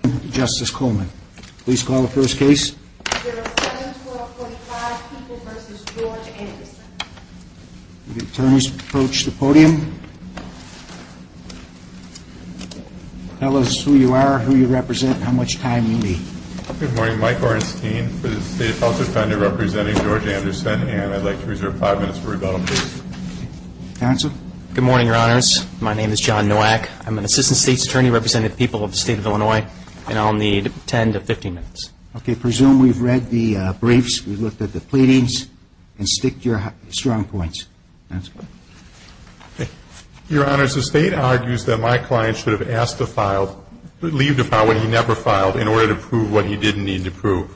Good morning, your honors. My name is John Nowak. I'm an Assistant State's Attorney representing the people of the State of Illinois, and I'll need 10 to 15 minutes. Okay, presume we've read the briefs, we've looked at the pleadings, and stick to your strong points. Your honors, the State argues that my client should have asked to file, leave to file what he never filed in order to prove what he didn't need to prove.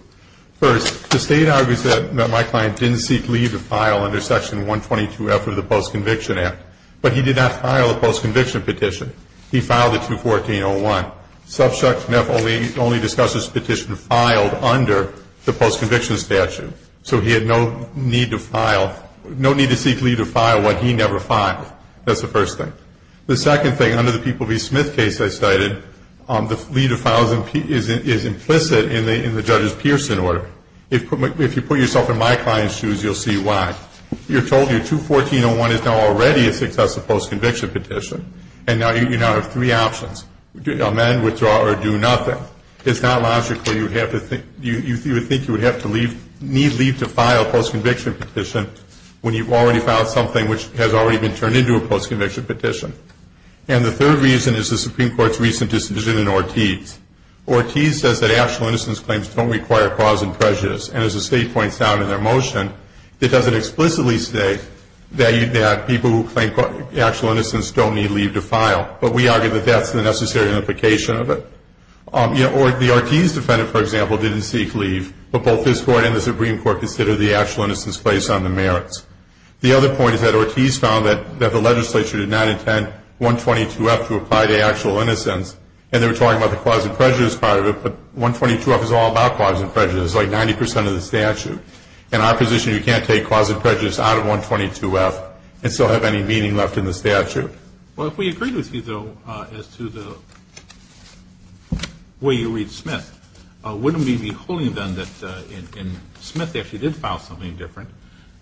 First, the State argues that my client didn't seek leave to file under Section 122 after the Post-Conviction Act, but he did not file a Post-Conviction Petition. He filed a 214-01. Subsection F only discusses petition filed under the Post-Conviction Statute. So he had no need to file, no need to seek leave to file what he never filed. That's the first thing. The second thing, under the People v. Smith case I cited, the leave to file is implicit in the judge's Pearson order. If you put yourself in my client's shoes, you'll see why. You're right. 214-01 is now already a successive Post-Conviction Petition, and you now have three options. Amend, withdraw, or do nothing. It's not logical. You would think you would have to leave, need leave to file a Post-Conviction Petition when you've already filed something which has already been turned into a Post-Conviction Petition. And the third reason is the Supreme Court's recent decision in Ortiz. Ortiz says that actual innocence claims don't require cause and prejudice, and as the State points out in their motion, it doesn't explicitly state that people who claim actual innocence don't need leave to file. But we argue that that's the necessary implication of it. The Ortiz defendant, for example, didn't seek leave, but both this Court and the Supreme Court consider the actual innocence place on the merits. The other point is that Ortiz found that the legislature did not intend 122-F to apply to actual innocence, and they were talking about the cause and prejudice part of it, but 122-F is all about cause and prejudice. It's like 90 percent of the statute. In our position, you can't take cause and prejudice out of 122-F and still have any meaning left in the statute. Well, if we agreed with you, though, as to the way you read Smith, wouldn't we be holding them that in Smith they actually did file something different,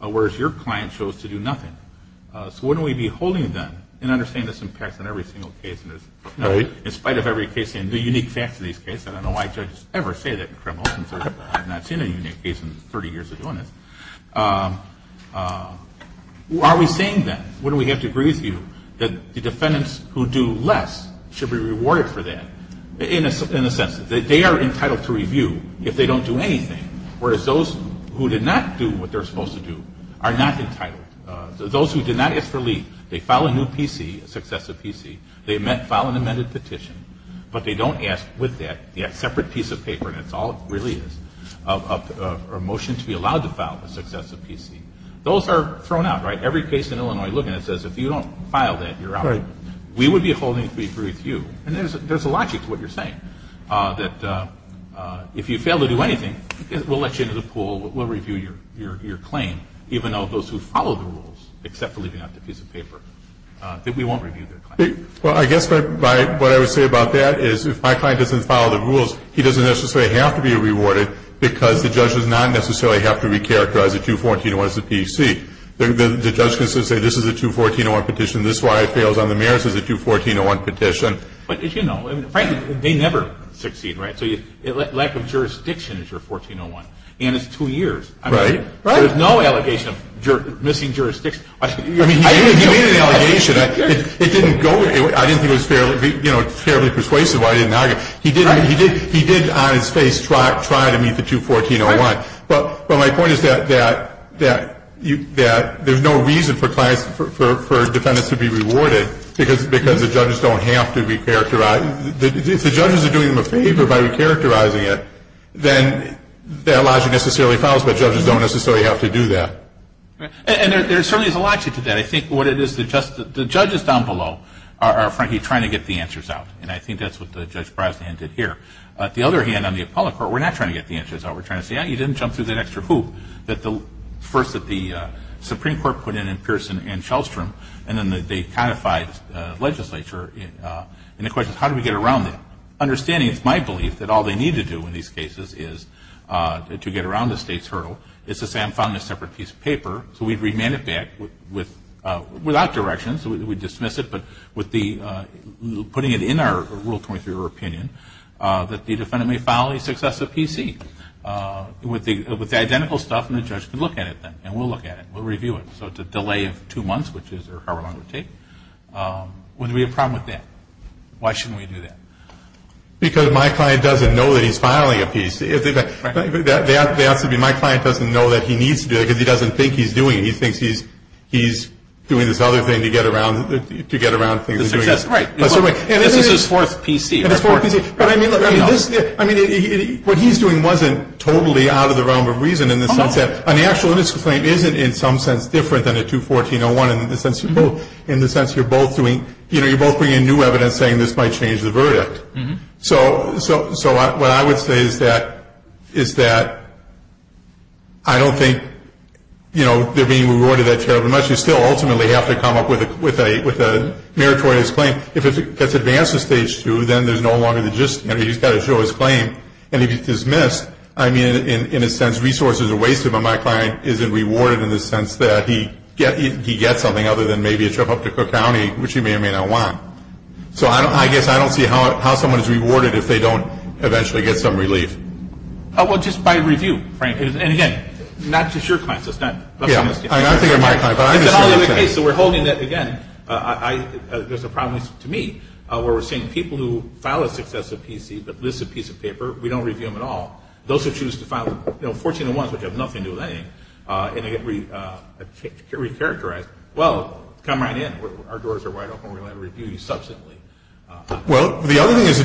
whereas your client chose to do nothing? So wouldn't we be holding them, and I understand this impacts on every single case in this. In spite of every case, and the unique facts of these cases, I don't know why judges ever say that in criminal cases. I've not seen a unique case in 30 years of doing this. Are we saying then, wouldn't we have to agree with you that the defendants who do less should be rewarded for that in a sense that they are entitled to review if they don't do anything, whereas those who did not do what they're supposed to do are not entitled. Those who did not ask for leave, they file a new PC, successive PC, they file an amended petition, but they don't ask with that, they have a separate piece of paper, and that's all it really is, a motion to be allowed to file, a successive PC. Those are thrown out, right? Every case in Illinois, look at it, it says if you don't file that, you're out. Right. We would be holding to agree with you, and there's a logic to what you're saying, that if you fail to do anything, we'll let you into the pool, we'll review your claim, even though those who follow the rules, except for leaving out the piece of paper, that we won't review their claim. Well, I guess what I would say about that is if my client doesn't follow the rules, he doesn't necessarily have to be rewarded because the judge does not necessarily have to recharacterize a 214-01 as a PC. The judge can simply say, this is a 214-01 petition, this is why it fails on the merits as a 214-01 petition. But as you know, frankly, they never succeed, right? So lack of jurisdiction is your 14-01, and it's two years. Right, right. So there's no allegation of missing jurisdiction. I mean, he made an allegation. It didn't go, I didn't think it was fairly persuasive why he didn't argue. He did, on his face, try to meet the 214-01, but my point is that there's no reason for clients, for defendants to be rewarded because the judges don't have to recharacterize. If the judges are doing them a favor by recharacterizing it, then that necessarily fails, but judges don't necessarily have to do that. And there certainly is a logic to that. I think what it is, the judges down below are frankly trying to get the answers out, and I think that's what Judge Brosnan did here. The other hand, on the appellate court, we're not trying to get the answers out. We're trying to say, yeah, you didn't jump through that extra hoop that the first that the Supreme Court put in in Pearson and Shelstrom, and then they codified legislature, and the question is, how do we get around that? Understanding it's my belief that all they need to do in these cases is to get around the state's hurdle. It's to say, I found this separate piece of paper, so we'd remand it back without direction, so we'd dismiss it, but putting it in our Rule 23 of our opinion that the defendant may file a successive PC with the identical stuff, and the judge could look at it then, and we'll look at it. We'll review it. So it's a delay of two months, which is however long it would take. Would we have a problem with that? Why shouldn't we do that? Because my client doesn't know that he's filing a PC. They have to be, my client doesn't know that he needs to do that, because he doesn't think he's doing it. He thinks he's doing this other thing to get around things he's doing. Right. This is his fourth PC. His fourth PC. But I mean, what he's doing wasn't totally out of the realm of reason in the sense that an actual misclaim isn't in some sense different than a 214-01 in the sense you're both doing, you know, you're both bringing new evidence saying this might change the verdict. So what I would say is that I don't think they're being rewarded that terribly much. You still ultimately have to come up with a meritorious claim. If it gets advanced to Stage 2, then there's no longer the gist. He's got to show his claim, and if he's dismissed, I mean, in a sense, resources are wasted, but my client isn't rewarded in the sense that he gets something other than maybe a trip up to Cook County, which he may or may not want. So I guess I don't see how someone is rewarded if they don't eventually get some relief. Oh, well, just by review, Frank. And again, not just your client, so it's not just my client. Yeah, I think it might be my client, but I'm just sure it's him. So we're holding that, again, there's a problem to me where we're saying people who file a successive PC but list a piece of paper, we don't review them at all. Those who choose to file, you know, 1401s, which have nothing to do with anything, and they get recharacterized, well, come right in. Our doors are wide open. We're going to review you substantially. Well, the other thing is,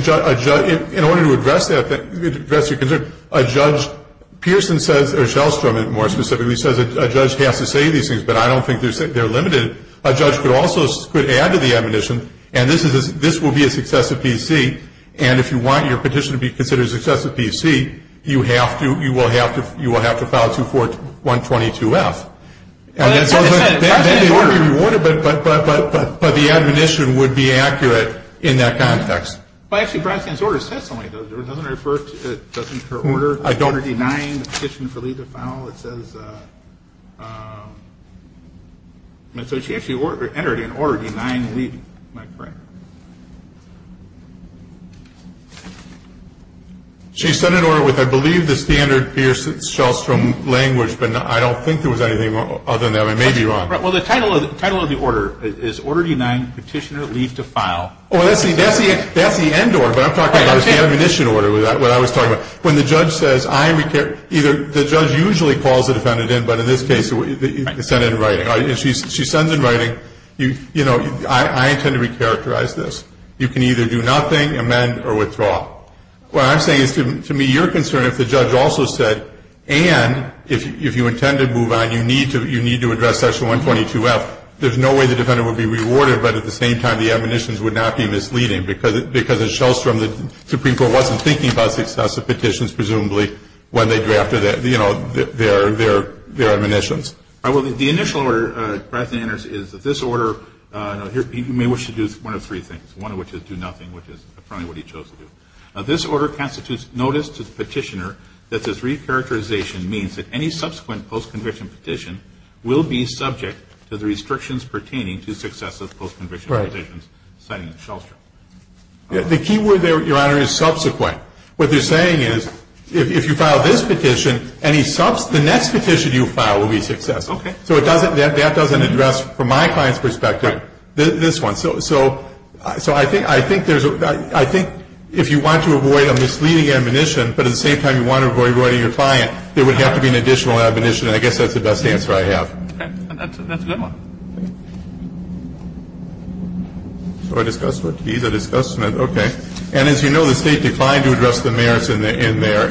in order to address your concern, a judge, Pearson says, or Shellstrom, more specifically, says a judge has to say these things, but I don't think they're limited. A judge could also add to the admonition, and this will be a successive PC, and if you want your petition to be considered a successive PC, you will have to file 24122F. But the admonition would be accurate in that context. Well, actually, Bronson's order says something, doesn't it? Doesn't her order denying the petitioner? She actually entered in Order Denying Petitioner, am I correct? She sent an order with, I believe, the standard Pearson-Shellstrom language, but I don't think there was anything other than that. I may be wrong. Well, the title of the order is Order Denying Petitioner Leave to File. Oh, that's the end order. What I'm talking about is the admonition order, what I was talking about. When the judge says, I require, either the judge usually calls the defendant in, but in this case, it's sent in writing. She sends in writing, you know, I intend to recharacterize this. You can either do nothing, amend, or withdraw. What I'm saying is, to me, you're concerned if the judge also said, and, if you intend to move on, you need to address section 122F, there's no way the defendant would be rewarded, but at the same time, the admonitions would not be misleading, because at Shellstrom, the Supreme Court wasn't thinking about successive petitions, presumably, when they drafted their, you know, their, their, their admonitions. All right. Well, the initial order, Breyton enters, is that this order, you know, he may wish to do one of three things, one of which is do nothing, which is apparently what he chose to do. Now, this order constitutes notice to the petitioner that this recharacterization means that any subsequent post-conviction petition will be subject to the restrictions pertaining to successive post-conviction petitions, citing Shellstrom. The key word there, Your Honor, is subsequent. What they're saying is, if you file this petition, any subsequent, the next petition you file will be successful. Okay. So it doesn't, that doesn't address, from my client's perspective, this one. So, so, so I think, I think there's a, I think if you want to avoid a misleading admonition, but at the same time you want to avoid rewarding your client, there would have to be an additional admonition, and I guess that's the best answer I have. Okay. And that's a, that's a good one. So I discussed what to do, I discussed, okay. And as you know, the State declined to address the merits in their,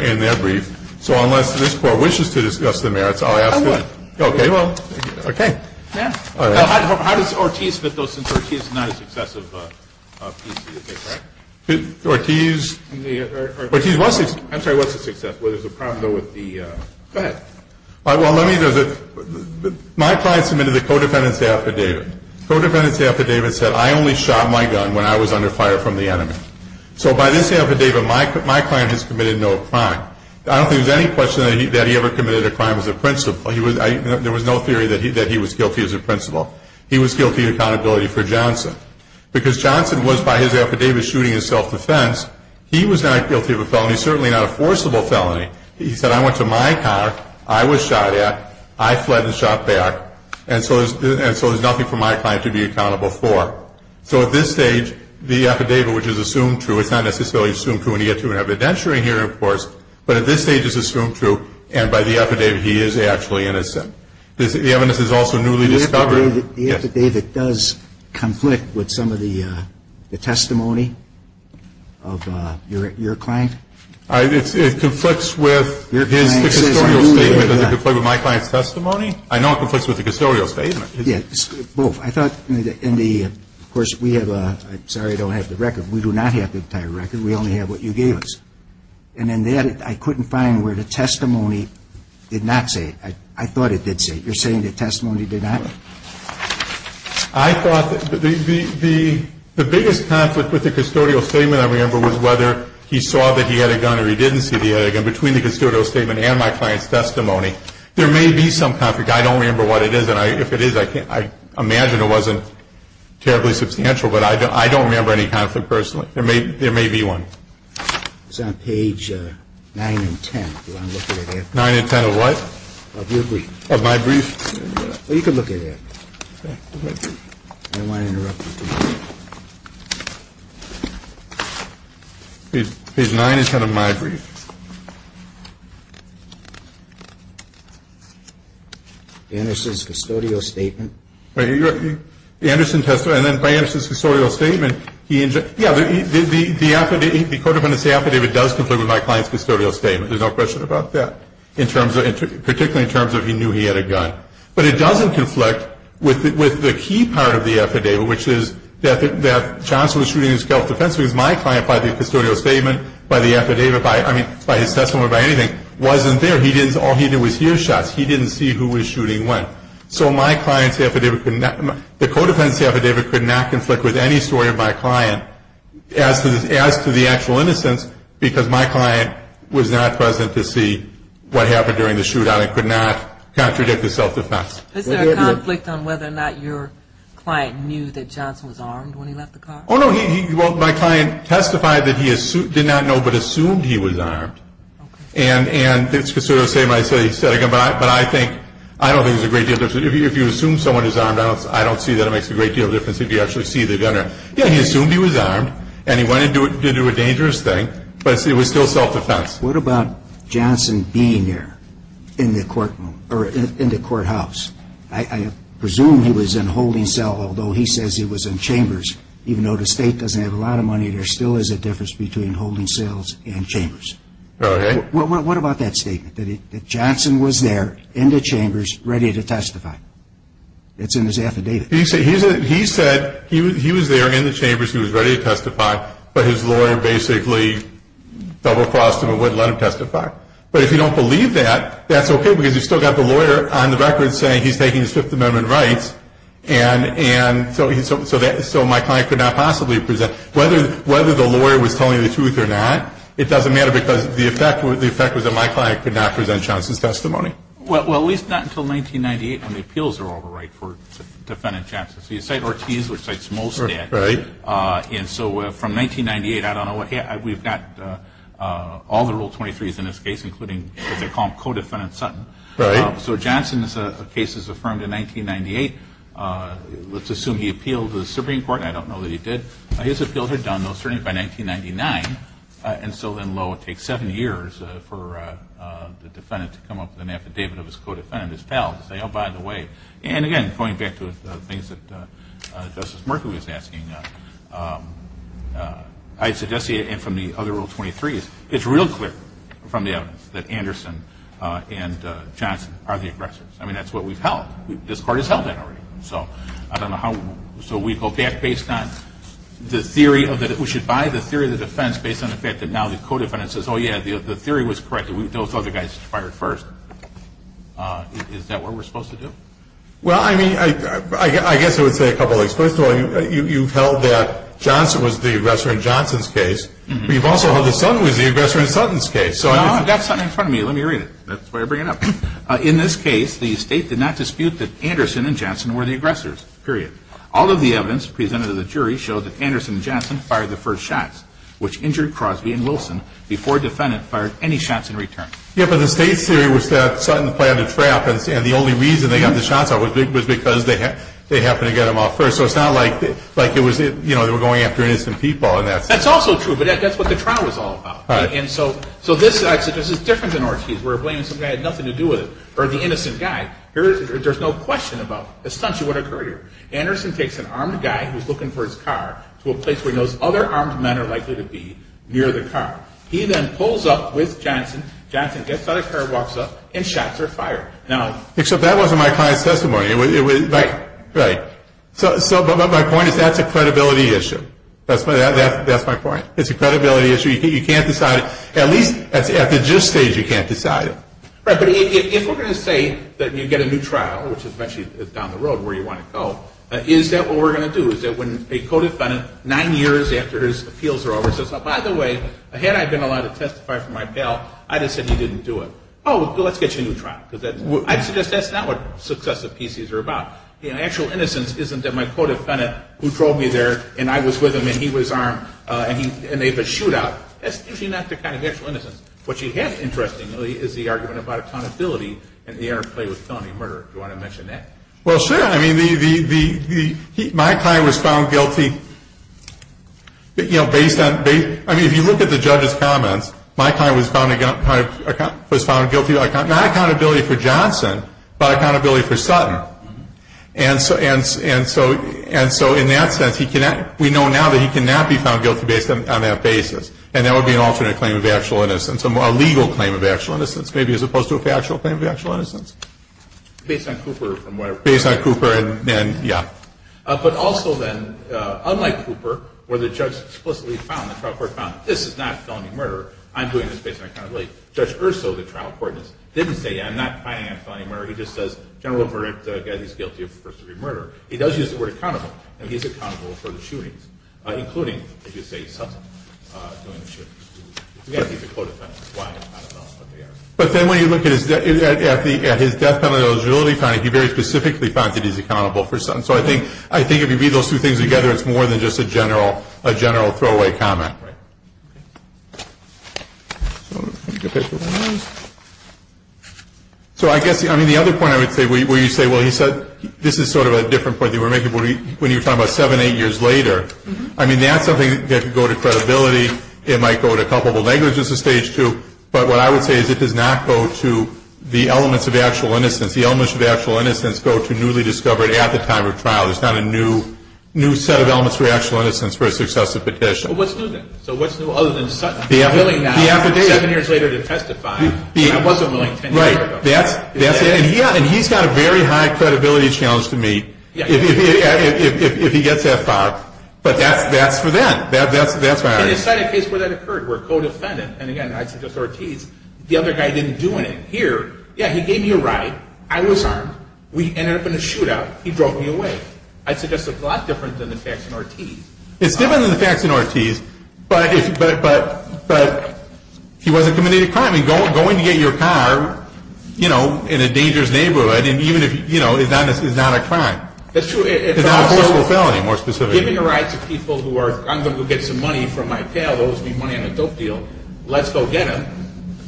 in their brief. So unless this Court wishes to discuss the merits, I'll ask it. I would. Okay. Well, okay. Yeah. All right. How does Ortiz fit those, since Ortiz is not a successive piece, is that correct? Ortiz, Ortiz was a, I'm sorry, was a successive. There's a problem, though, with the, go ahead. Well, let me, my client submitted a co-defendant's affidavit. Co-defendant's affidavit said I only shot my gun when I was under fire from the enemy. So by this affidavit, my client has committed no crime. I don't think there's any question that he ever committed a crime as a principal. There was no theory that he was guilty as a principal. He was guilty of accountability for Johnson. Because Johnson was, by his affidavit, shooting in self-defense, he was not guilty of a felony, certainly not a forcible felony. He said I went to my car, I was shot at, I fled and shot back, and so there's nothing for my client to be accountable for. So at this stage, the affidavit, which is assumed true, it's not necessarily assumed true when you get to an evidentiary hearing, of course, but at this stage it's assumed true, and by the affidavit, he is actually innocent. The evidence is also newly discovered. The affidavit does conflict with some of the testimony of your client? It conflicts with his custodial statement. Does it conflict with my client's testimony? I know it conflicts with the custodial statement. Yes, both. I thought in the, of course, we have a, sorry, I don't have the record. We do not have the entire record. We only have what you gave us. And in that, I couldn't find where the testimony did not say. I thought it did say. You're saying the testimony did not? I thought the biggest conflict with the custodial statement I remember was whether he saw that he had a gun or he didn't see that he had a gun. Between the custodial statement and my client's testimony, there may be some conflict. I don't remember what it is, and if it is, I imagine it wasn't terribly substantial, but I don't remember any conflict personally. There may be one. It's on page 9 and 10, if you want to look at it. 9 and 10 of what? Of your brief. Of my brief? Well, you can look at it. I don't want to interrupt you. Page 9 and 10 of my brief. Anderson's custodial statement. Anderson's custodial statement. Yeah, the codependency affidavit does conflict with my client's custodial statement. There's no question about that, particularly in terms of he knew he had a gun. But it doesn't conflict with the key part of the affidavit, which is that Johnson was shooting his self-defense because my client, by the custodial statement, by the affidavit, by his testimony, by anything, wasn't there. All he did was hear shots. He didn't see who was shooting when. So my client's affidavit, the codependency affidavit could not conflict with any story of my client as to the actual innocence because my client was not present to see what happened during the shootout and could not contradict the self-defense. Is there a conflict on whether or not your client knew that Johnson was armed when he left the car? Oh, no. My client testified that he did not know but assumed he was armed. And the custodial statement I said, he said again, but I think, I don't think there's a great deal of difference. If you assume someone is armed, I don't see that it makes a great deal of difference if you actually see the gunner. Yeah, he assumed he was armed and he went in to do a dangerous thing, but it was still self-defense. What about Johnson being there in the courthouse? I presume he was in holding cell, although he says he was in chambers. Even though the State doesn't have a lot of money, there still is a difference between holding cells and chambers. Okay. What about that statement that Johnson was there in the chambers ready to testify? It's in his affidavit. He said he was there in the chambers, he was ready to testify, but his lawyer basically double-crossed him and wouldn't let him testify. But if you don't believe that, that's okay because you've still got the lawyer on the record saying he's taking his Fifth Amendment rights and so my client could not possibly present. Whether the lawyer was telling the truth or not, it doesn't matter because the effect was that my client could not present Johnson's testimony. Well, at least not until 1998 when the appeals are all the right for Defendant Johnson. So you cite Ortiz, which cites Molstad. Right. And so from 1998, I don't know, we've got all the Rule 23s in this case, including, as they call him, Codefendant Sutton. Right. So Johnson's case is affirmed in 1998. Let's assume he appealed to the Supreme Court. I don't know that he did. His appeals are done, though, certainly by 1999. And so then, lo, it takes seven years for the defendant to come up with an affidavit of his co-defendant, his pal, to say, oh, by the way. And again, going back to the things that Justice Murphy was asking, I suggest he, and from the other Rule 23s, it's real clear from the evidence that Anderson and Johnson are the aggressors. I mean, that's what we've held. This Court has held that already. So I don't know how, so we go back based on the theory that we should buy the theory of the defense based on the fact that now the co-defendant says, oh, yeah, the theory was correct. Those other guys fired first. Is that what we're supposed to do? Well, I mean, I guess I would say a couple of things. First of all, you've held that Johnson was the aggressor in Johnson's case, but you've also held that Sutton was the aggressor in Sutton's case. No, I've got Sutton in front of me. Let me read it. That's why I bring it up. In this case, the State did not dispute that Anderson and Johnson were the aggressors. Period. All of the evidence presented to the jury showed that Anderson and Johnson fired the first shots, which injured Crosby and Wilson before a defendant fired any shots in return. Yeah, but the State's theory was that Sutton planned a trap and the only reason they got the shots out was because they happened to get them off first. So it's not like they were going after an innocent people. That's also true, but that's what the trial was all about. So this is different than Ortiz, where Williamson had nothing to do with it, or the innocent guy. There's no question about essentially what occurred here. Anderson takes an armed guy who's looking for his car to a place where he knows other armed men are likely to be near the car. He then pulls up with Johnson, Johnson gets out of the car, walks up, and shots are fired. Except that wasn't my client's testimony. Right. So my point is that's a credibility issue. That's my point. It's a credibility issue. You can't decide, at least at the just stage, you can't decide. Right, but if we're going to say that you get a new trial, which is actually down the road where you want to go, is that what we're going to do? Is that when a co-defendant, nine years after his appeals are over, says, by the way, had I been allowed to testify for my pal, I just said he didn't do it. Oh, well, let's get you a new trial. I suggest that's not what successive PCs are about. Actual innocence isn't that my co-defendant, who drove me there, and I was with him, and he was armed, and they had a shootout. That's usually not the kind of actual innocence. What you have, interestingly, is the argument about accountability and the interplay with felony murder. Do you want to mention that? Well, sure. I mean, my client was found guilty, you know, based on, I mean, if you look at the judge's comments, my client was found guilty, not accountability for Johnson, but accountability for Sutton. And so in that sense, we know now that he cannot be found guilty based on that basis. And that would be an alternate claim of actual innocence, a legal claim of actual innocence, maybe, as opposed to a factual claim of actual innocence. Based on Cooper and whatever. Based on Cooper and, yeah. But also then, unlike Cooper, where the judge explicitly found, the trial court found, this is not felony murder, I'm doing this based on accountability. Judge Urso, the trial court, didn't say, yeah, I'm not finding it a felony murder. He just says, general verdict, the guy that he's guilty of first degree murder. He does use the word accountable, and he's accountable for the shootings, including, as you say, Sutton doing the shootings. Again, he's a code offender. Why? I don't know. But then when you look at his death penalty eligibility finding, he very specifically found that he's accountable for Sutton. So I think if you read those two things together, it's more than just a general throwaway comment. Right. So I guess, I mean, the other point I would say, where you say, well, he said, this is sort of a different point than you were making when you were talking about seven, eight years later. I mean, that's something that could go to credibility. It might go to culpable negligence at stage two. But what I would say is it does not go to the elements of actual innocence. The elements of actual innocence go to newly discovered at the time of trial. There's not a new set of elements for actual innocence for a successive petition. Well, what's new then? So what's new? The affidavit. Seven years later to testify. I wasn't willing ten years ago. Right. That's it. And he's got a very high credibility challenge to meet if he gets that far. But that's for then. That's where I would say. In the case where that occurred, where codefendant, and again, I'd suggest Ortiz, the other guy didn't do anything. Here, yeah, he gave me a ride. I was armed. We ended up in a shootout. He drove me away. I'd suggest it's a lot different than the facts in Ortiz. It's different than the facts in Ortiz, but he wasn't committing a crime. Going to get your car in a dangerous neighborhood is not a crime. That's true. It's not a forceful felony, more specifically. Given the rights of people who are, I'm going to go get some money from my pal, owes me money on a dope deal, let's go get him.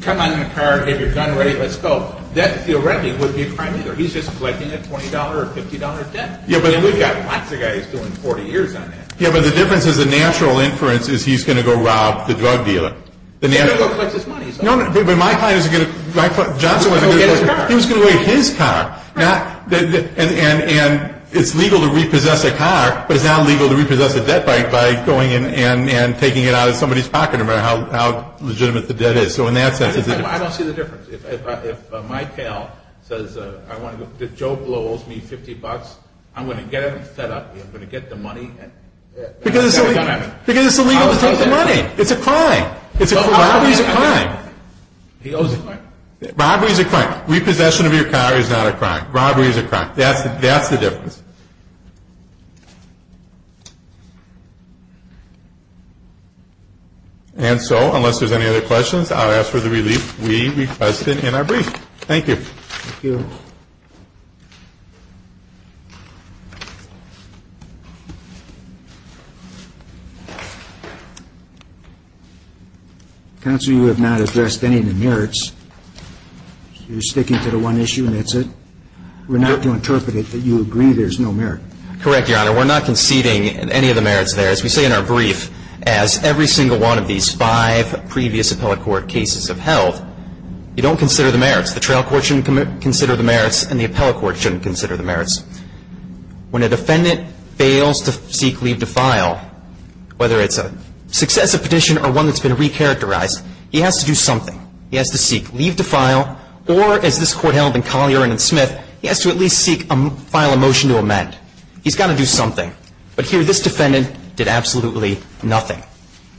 Come on in the car, have your gun ready, let's go. That, if you're ready, wouldn't be a crime either. He's just collecting a $20 or $50 debt. We've got lots of guys doing 40 years on that. Yeah, but the difference is the natural inference is he's going to go rob the drug dealer. He's going to go collect his money. No, but my client is going to, my client, Johnson was going to get his car. He was going to get his car. And it's legal to repossess a car, but it's not legal to repossess a debt by going in and taking it out of somebody's pocket, no matter how legitimate the debt is. So in that sense, it's a different. I don't see the difference. If my pal says, I want to go, if Joe blows me 50 bucks, I'm going to get him set up. I'm going to get the money. Because it's illegal to take the money. It's a crime. Robbery is a crime. He owes the money. Robbery is a crime. Repossession of your car is not a crime. Robbery is a crime. That's the difference. And so, unless there's any other questions, I'll ask for the relief we requested in our brief. Thank you. Thank you. Counsel, you have not addressed any of the merits. You're sticking to the one issue, and that's it? We're not going to interpret it that you agree there's no merit. Correct, Your Honor. We're not conceding any of the merits there. As we say in our brief, as every single one of these five previous appellate court cases have held, you don't consider the merits. The trial court shouldn't consider the merits, and the appellate court shouldn't consider the merits. When a defendant fails to seek leave to file, whether it's a successive petition or one that's been recharacterized, he has to do something. He has to seek leave to file, or, as this Court held in Collier and in Smith, he has to at least file a motion to amend. He's got to do something. But here, this defendant did absolutely nothing.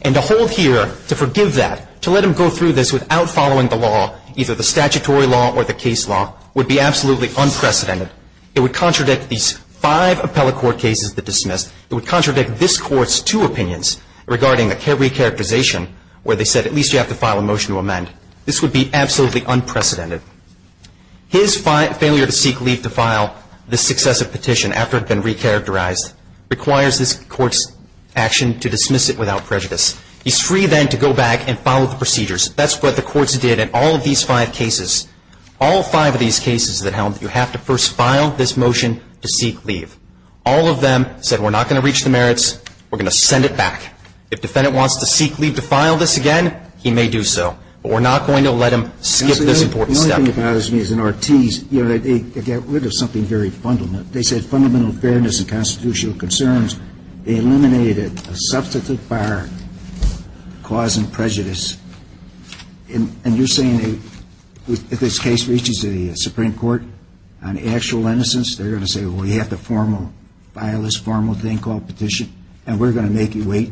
And to hold here, to forgive that, to let him go through this without following the law, either the statutory law or the case law, would be absolutely unprecedented. It would contradict these five appellate court cases that dismissed. It would contradict this Court's two opinions regarding a recharacterization where they said, at least you have to file a motion to amend. This would be absolutely unprecedented. His failure to seek leave to file this successive petition after it had been recharacterized requires this Court's action to dismiss it without prejudice. He's free then to go back and follow the procedures. That's what the courts did in all of these five cases. All five of these cases that held that you have to first file this motion to seek leave. All of them said, we're not going to reach the merits. We're going to send it back. If the defendant wants to seek leave to file this again, he may do so. But we're not going to let him skip this important step. The only thing that bothers me is in Ortiz, they got rid of something very fundamental. They said fundamental fairness and constitutional concerns. They eliminated a substitute bar, cause and prejudice. And you're saying that if this case reaches the Supreme Court on actual innocence, they're going to say, well, you have to file this formal thing called petition, and we're going to make you wait?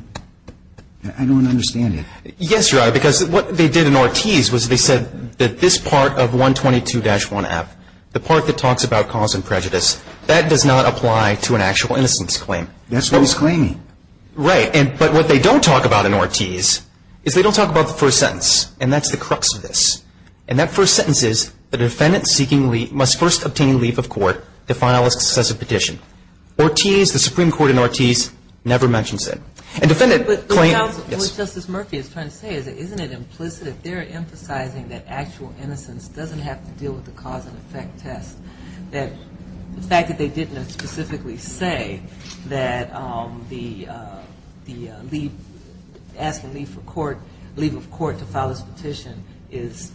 I don't understand that. Yes, Your Honor, because what they did in Ortiz was they said that this part of 122-1F, the part that talks about cause and prejudice, that does not apply to an actual innocence claim. That's what he's claiming. Right. But what they don't talk about in Ortiz is they don't talk about the first sentence. And that's the crux of this. And that first sentence is the defendant seeking leave must first obtain leave of court to file a successive petition. Ortiz, the Supreme Court in Ortiz, never mentions it. But the way Justice Murphy is trying to say it, isn't it implicit? If they're emphasizing that actual innocence doesn't have to deal with the cause and effect test, that the fact that they didn't specifically say that the leave, asking leave for court, leave of court to file this petition is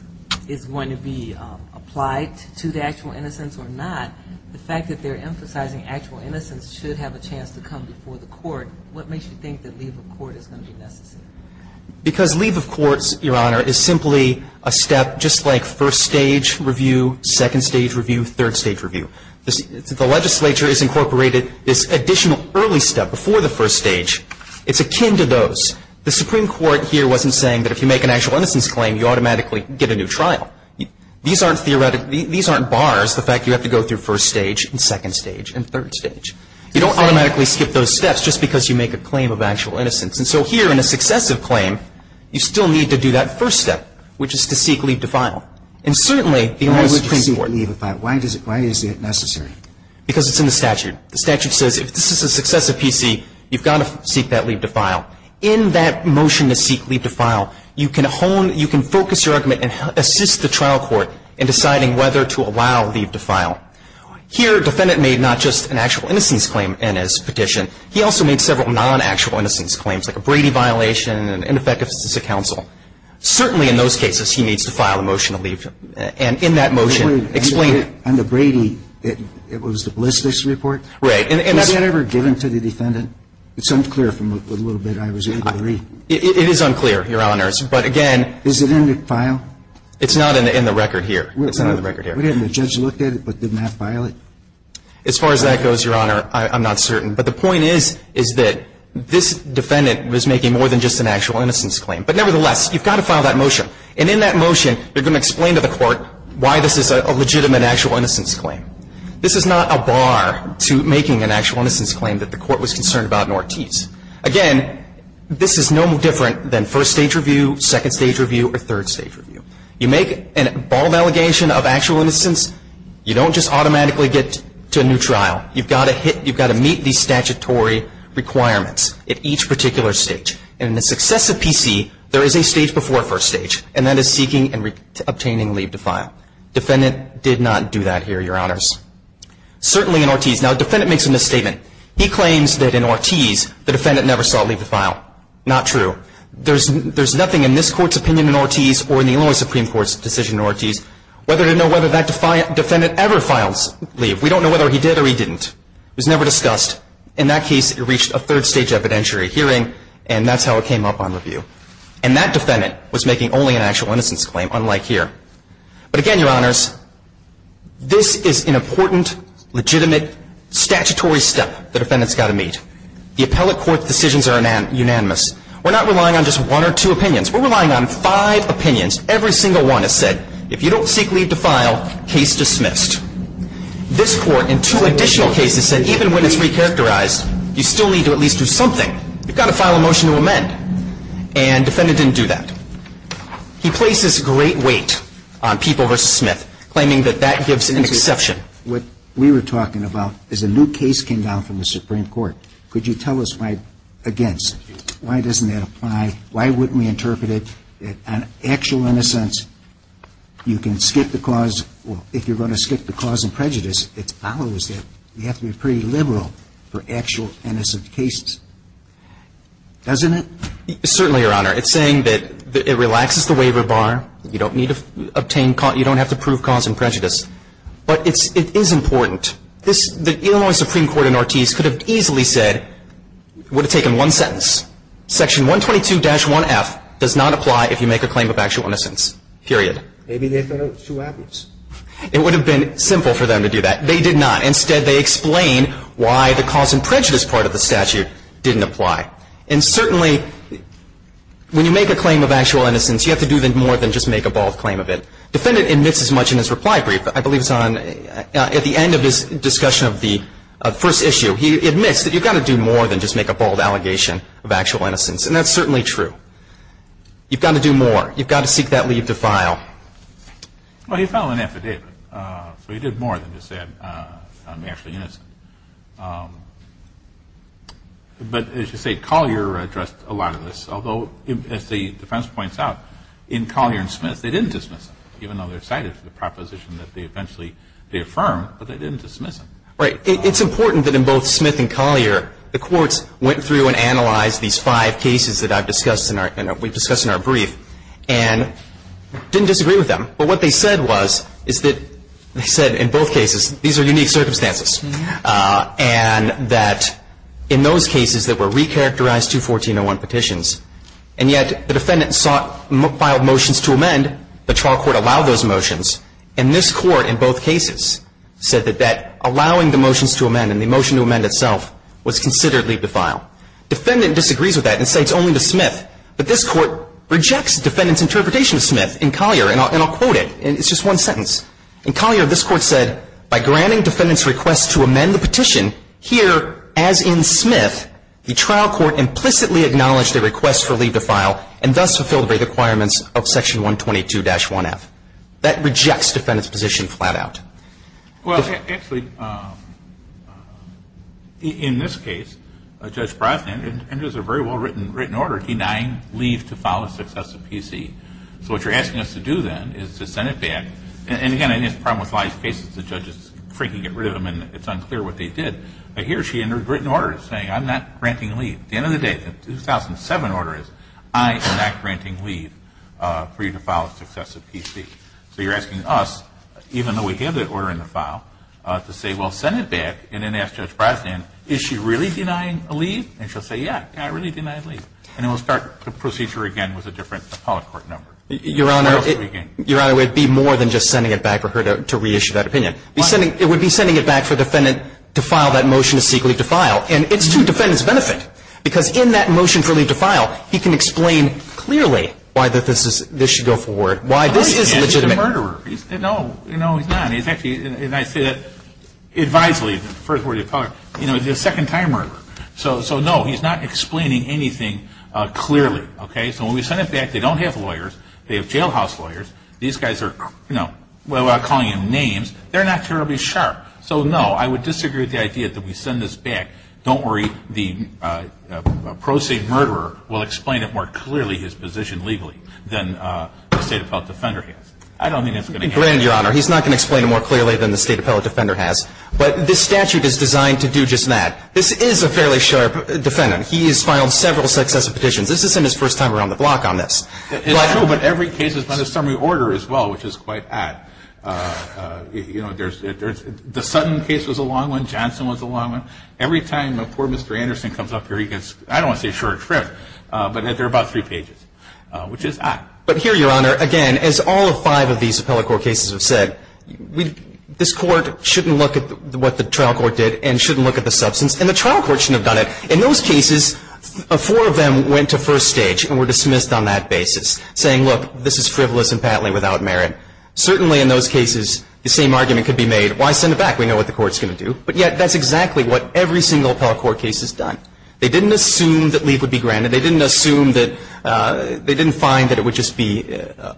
going to be applied to the actual innocence or not, the fact that they're emphasizing actual innocence should have a chance to come before the court, what makes you think that leave of court is going to be necessary? Because leave of courts, Your Honor, is simply a step just like first stage review, second stage review, third stage review. The legislature has incorporated this additional early step before the first stage. It's akin to those. The Supreme Court here wasn't saying that if you make an actual innocence claim, you automatically get a new trial. These aren't bars, the fact you have to go through first stage and second stage and third stage. You don't automatically skip those steps just because you make a claim of actual innocence. And so here in a successive claim, you still need to do that first step, which is to seek leave to file. Why would you seek leave to file? Why is it necessary? Because it's in the statute. The statute says if this is a successive PC, you've got to seek that leave to file. In that motion to seek leave to file, you can hone, you can focus your argument and assist the trial court in deciding whether to allow leave to file. Here, defendant made not just an actual innocence claim in his petition, he also made several non-actual innocence claims, like a Brady violation, an ineffectiveness of counsel. Certainly in those cases, he needs to file a motion to leave. And in that motion, explain it. Under Brady, it was the Ballistics Report? Right. Was that ever given to the defendant? It's unclear from the little bit I was able to read. It is unclear, Your Honors. But again... Is it in the file? It's not in the record here. It's not in the record here. The judge looked at it, but did not file it? As far as that goes, Your Honor, I'm not certain. But the point is, is that this defendant was making more than just an actual innocence claim. But nevertheless, you've got to file that motion. And in that motion, you're going to explain to the court why this is a legitimate actual innocence claim. This is not a bar to making an actual innocence claim that the court was concerned about in Ortiz. Again, this is no different than first stage review, second stage review, or third stage review. You make a bald allegation of actual innocence, you don't just automatically get to a new trial. You've got to meet these statutory requirements at each particular stage. And in the success of PC, there is a stage before first stage. And that is seeking and obtaining leave to file. Defendant did not do that here, Your Honors. Certainly in Ortiz. Now, the defendant makes a misstatement. He claims that in Ortiz, the defendant never saw leave to file. Not true. There's nothing in this court's opinion in Ortiz, or in the Illinois Supreme Court's decision in Ortiz, whether to know whether that defendant ever files leave. We don't know whether he did or he didn't. It was never discussed. In that case, it reached a third stage evidentiary hearing, and that's how it came up on review. And that defendant was making only an actual innocence claim, unlike here. But again, Your Honors, this is an important, legitimate, statutory step the defendant's got to meet. The appellate court's decisions are unanimous. We're not relying on just one or two opinions. We're relying on five opinions. Every single one has said, if you don't seek leave to file, case dismissed. This court, in two additional cases, said even when it's recharacterized, you still need to at least do something. You've got to file a motion to amend. And the defendant didn't do that. He places great weight on Peeple v. Smith, claiming that that gives an exception. What we were talking about is a new case came down from the Supreme Court. Could you tell us why against? Why doesn't that apply? Why wouldn't we interpret it on actual innocence? You can skip the clause. If you're going to skip the clause in prejudice, it follows that you have to be pretty liberal for actual innocent cases. Doesn't it? Certainly, Your Honor. It's saying that it relaxes the waiver bar. You don't have to prove cause and prejudice. But it is important. The Illinois Supreme Court in Ortiz could have easily said, would have taken one sentence. Section 122-1F does not apply if you make a claim of actual innocence. Maybe they thought it was too obvious. It would have been simple for them to do that. They did not. Instead, they explained why the cause and prejudice part of the statute didn't apply. And certainly, when you make a claim of actual innocence, you have to do more than just make a bold claim of it. The defendant admits as much in his reply brief. I believe it's on, at the end of his discussion of the first issue. He admits that you've got to do more than just make a bold allegation of actual innocence. And that's certainly true. You've got to do more. You've got to seek that leave to file. Well, he filed an affidavit. So he did more than just say I'm actually innocent. But as you say, Collier addressed a lot of this. Although, as the defense points out, in Collier and Smith, they didn't dismiss him, even though they're cited for the proposition that they eventually, they affirmed, but they didn't dismiss him. Right. It's important that in both Smith and Collier, the courts went through and analyzed these five cases that I've discussed and we've discussed in our brief. And didn't disagree with them. But what they said was, is that, they said in both cases, these are unique circumstances. And that in those cases that were recharacterized to 1401 petitions, and yet the defendant sought, filed motions to amend. The trial court allowed those motions. And this court, in both cases, said that that allowing the motions to amend and the motion to amend itself was considerably defiled. Defendant disagrees with that and cites only to Smith. But this court rejects defendant's interpretation of Smith in Collier. And I'll quote it. It's just one sentence. In Collier, this court said, by granting defendant's request to amend the petition, here, as in Smith, the trial court implicitly acknowledged their request for leave to file, and thus fulfilled the requirements of Section 122-1F. That rejects defendant's position flat out. Well, actually, in this case, Judge Brosnan enters a very well-written order denying leave to file a successive PC. So what you're asking us to do, then, is to send it back. And again, I think it's a problem with a lot of these cases. The judge is freaking to get rid of them and it's unclear what they did. But here she entered a written order saying, I'm not granting leave. At the end of the day, the 2007 order is, I am not granting leave for you to file a successive PC. So you're asking us, even though we have that order in the file, to say, well, send it back. And then ask Judge Brosnan, is she really denying a leave? And she'll say, yeah, I really denied leave. And then we'll start the procedure again with a different appellate court number. Your Honor, Your Honor, it would be more than just sending it back for her to reissue that opinion. It would be sending it back for defendant to file that motion to seek leave to file. And it's to defendant's benefit, because in that motion for leave to file, he can explain clearly why this should go forward. Why this is legitimate. He's a murderer. No, no, he's not. He's actually, and I say that advisedly, the first word of the appellate court, he's a second time murderer. So no, he's not explaining anything clearly. So when we send it back, they don't have lawyers. They have jailhouse lawyers. These guys are calling him names. They're not terribly sharp. So no, I would disagree with the idea that we send this back. Don't worry. The pro se murderer will explain it more clearly, his position legally, than the State Appellate Defender has. I don't think that's going to happen. Granted, Your Honor, he's not going to explain it more clearly than the State Appellate Defender has. But this statute is designed to do just that. This is a fairly sharp defendant. He has filed several successive petitions. This isn't his first time around the block on this. It's true, but every case is under summary order as well, which is quite odd. You know, the Sutton case was a long one. Johnson was a long one. Every time a poor Mr. Anderson comes up here, he gets, I don't want to say a short trip, but they're about three pages, which is odd. But here, Your Honor, again, as all five of these appellate court cases have said, this court shouldn't look at what the trial court did and shouldn't look at the substance. And the trial court shouldn't have done it. In those cases, four of them went to first stage and were dismissed on that basis, saying, look, this is frivolous and patently without merit. Certainly in those cases, the same argument could be made. Why send it back? We know what the court's going to do. But yet, that's exactly what every single appellate court case has done. They didn't assume that leave would be granted. They didn't assume that, they didn't find that it would just be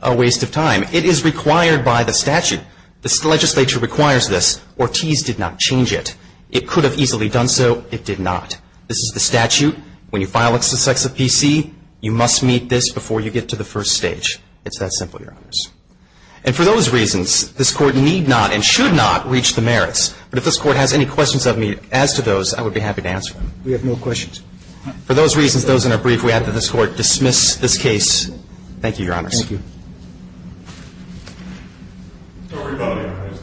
a waste of time. It is required by the statute. The legislature requires this. Ortiz did not change it. It could have easily done so. It did not. This is the statute. When you file a successive PC, you must meet this before you get to the first stage. It's that simple, Your Honors. And for those reasons, this court need not and should not reach the merits. But if this Court has any questions of me as to those, I would be happy to answer them. We have no questions. For those reasons, those in our brief, we ask that this Court dismiss this case. Thank you, Your Honors. Thank you. Sorry about that, Your Honors.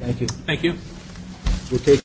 Thank you. Thank you.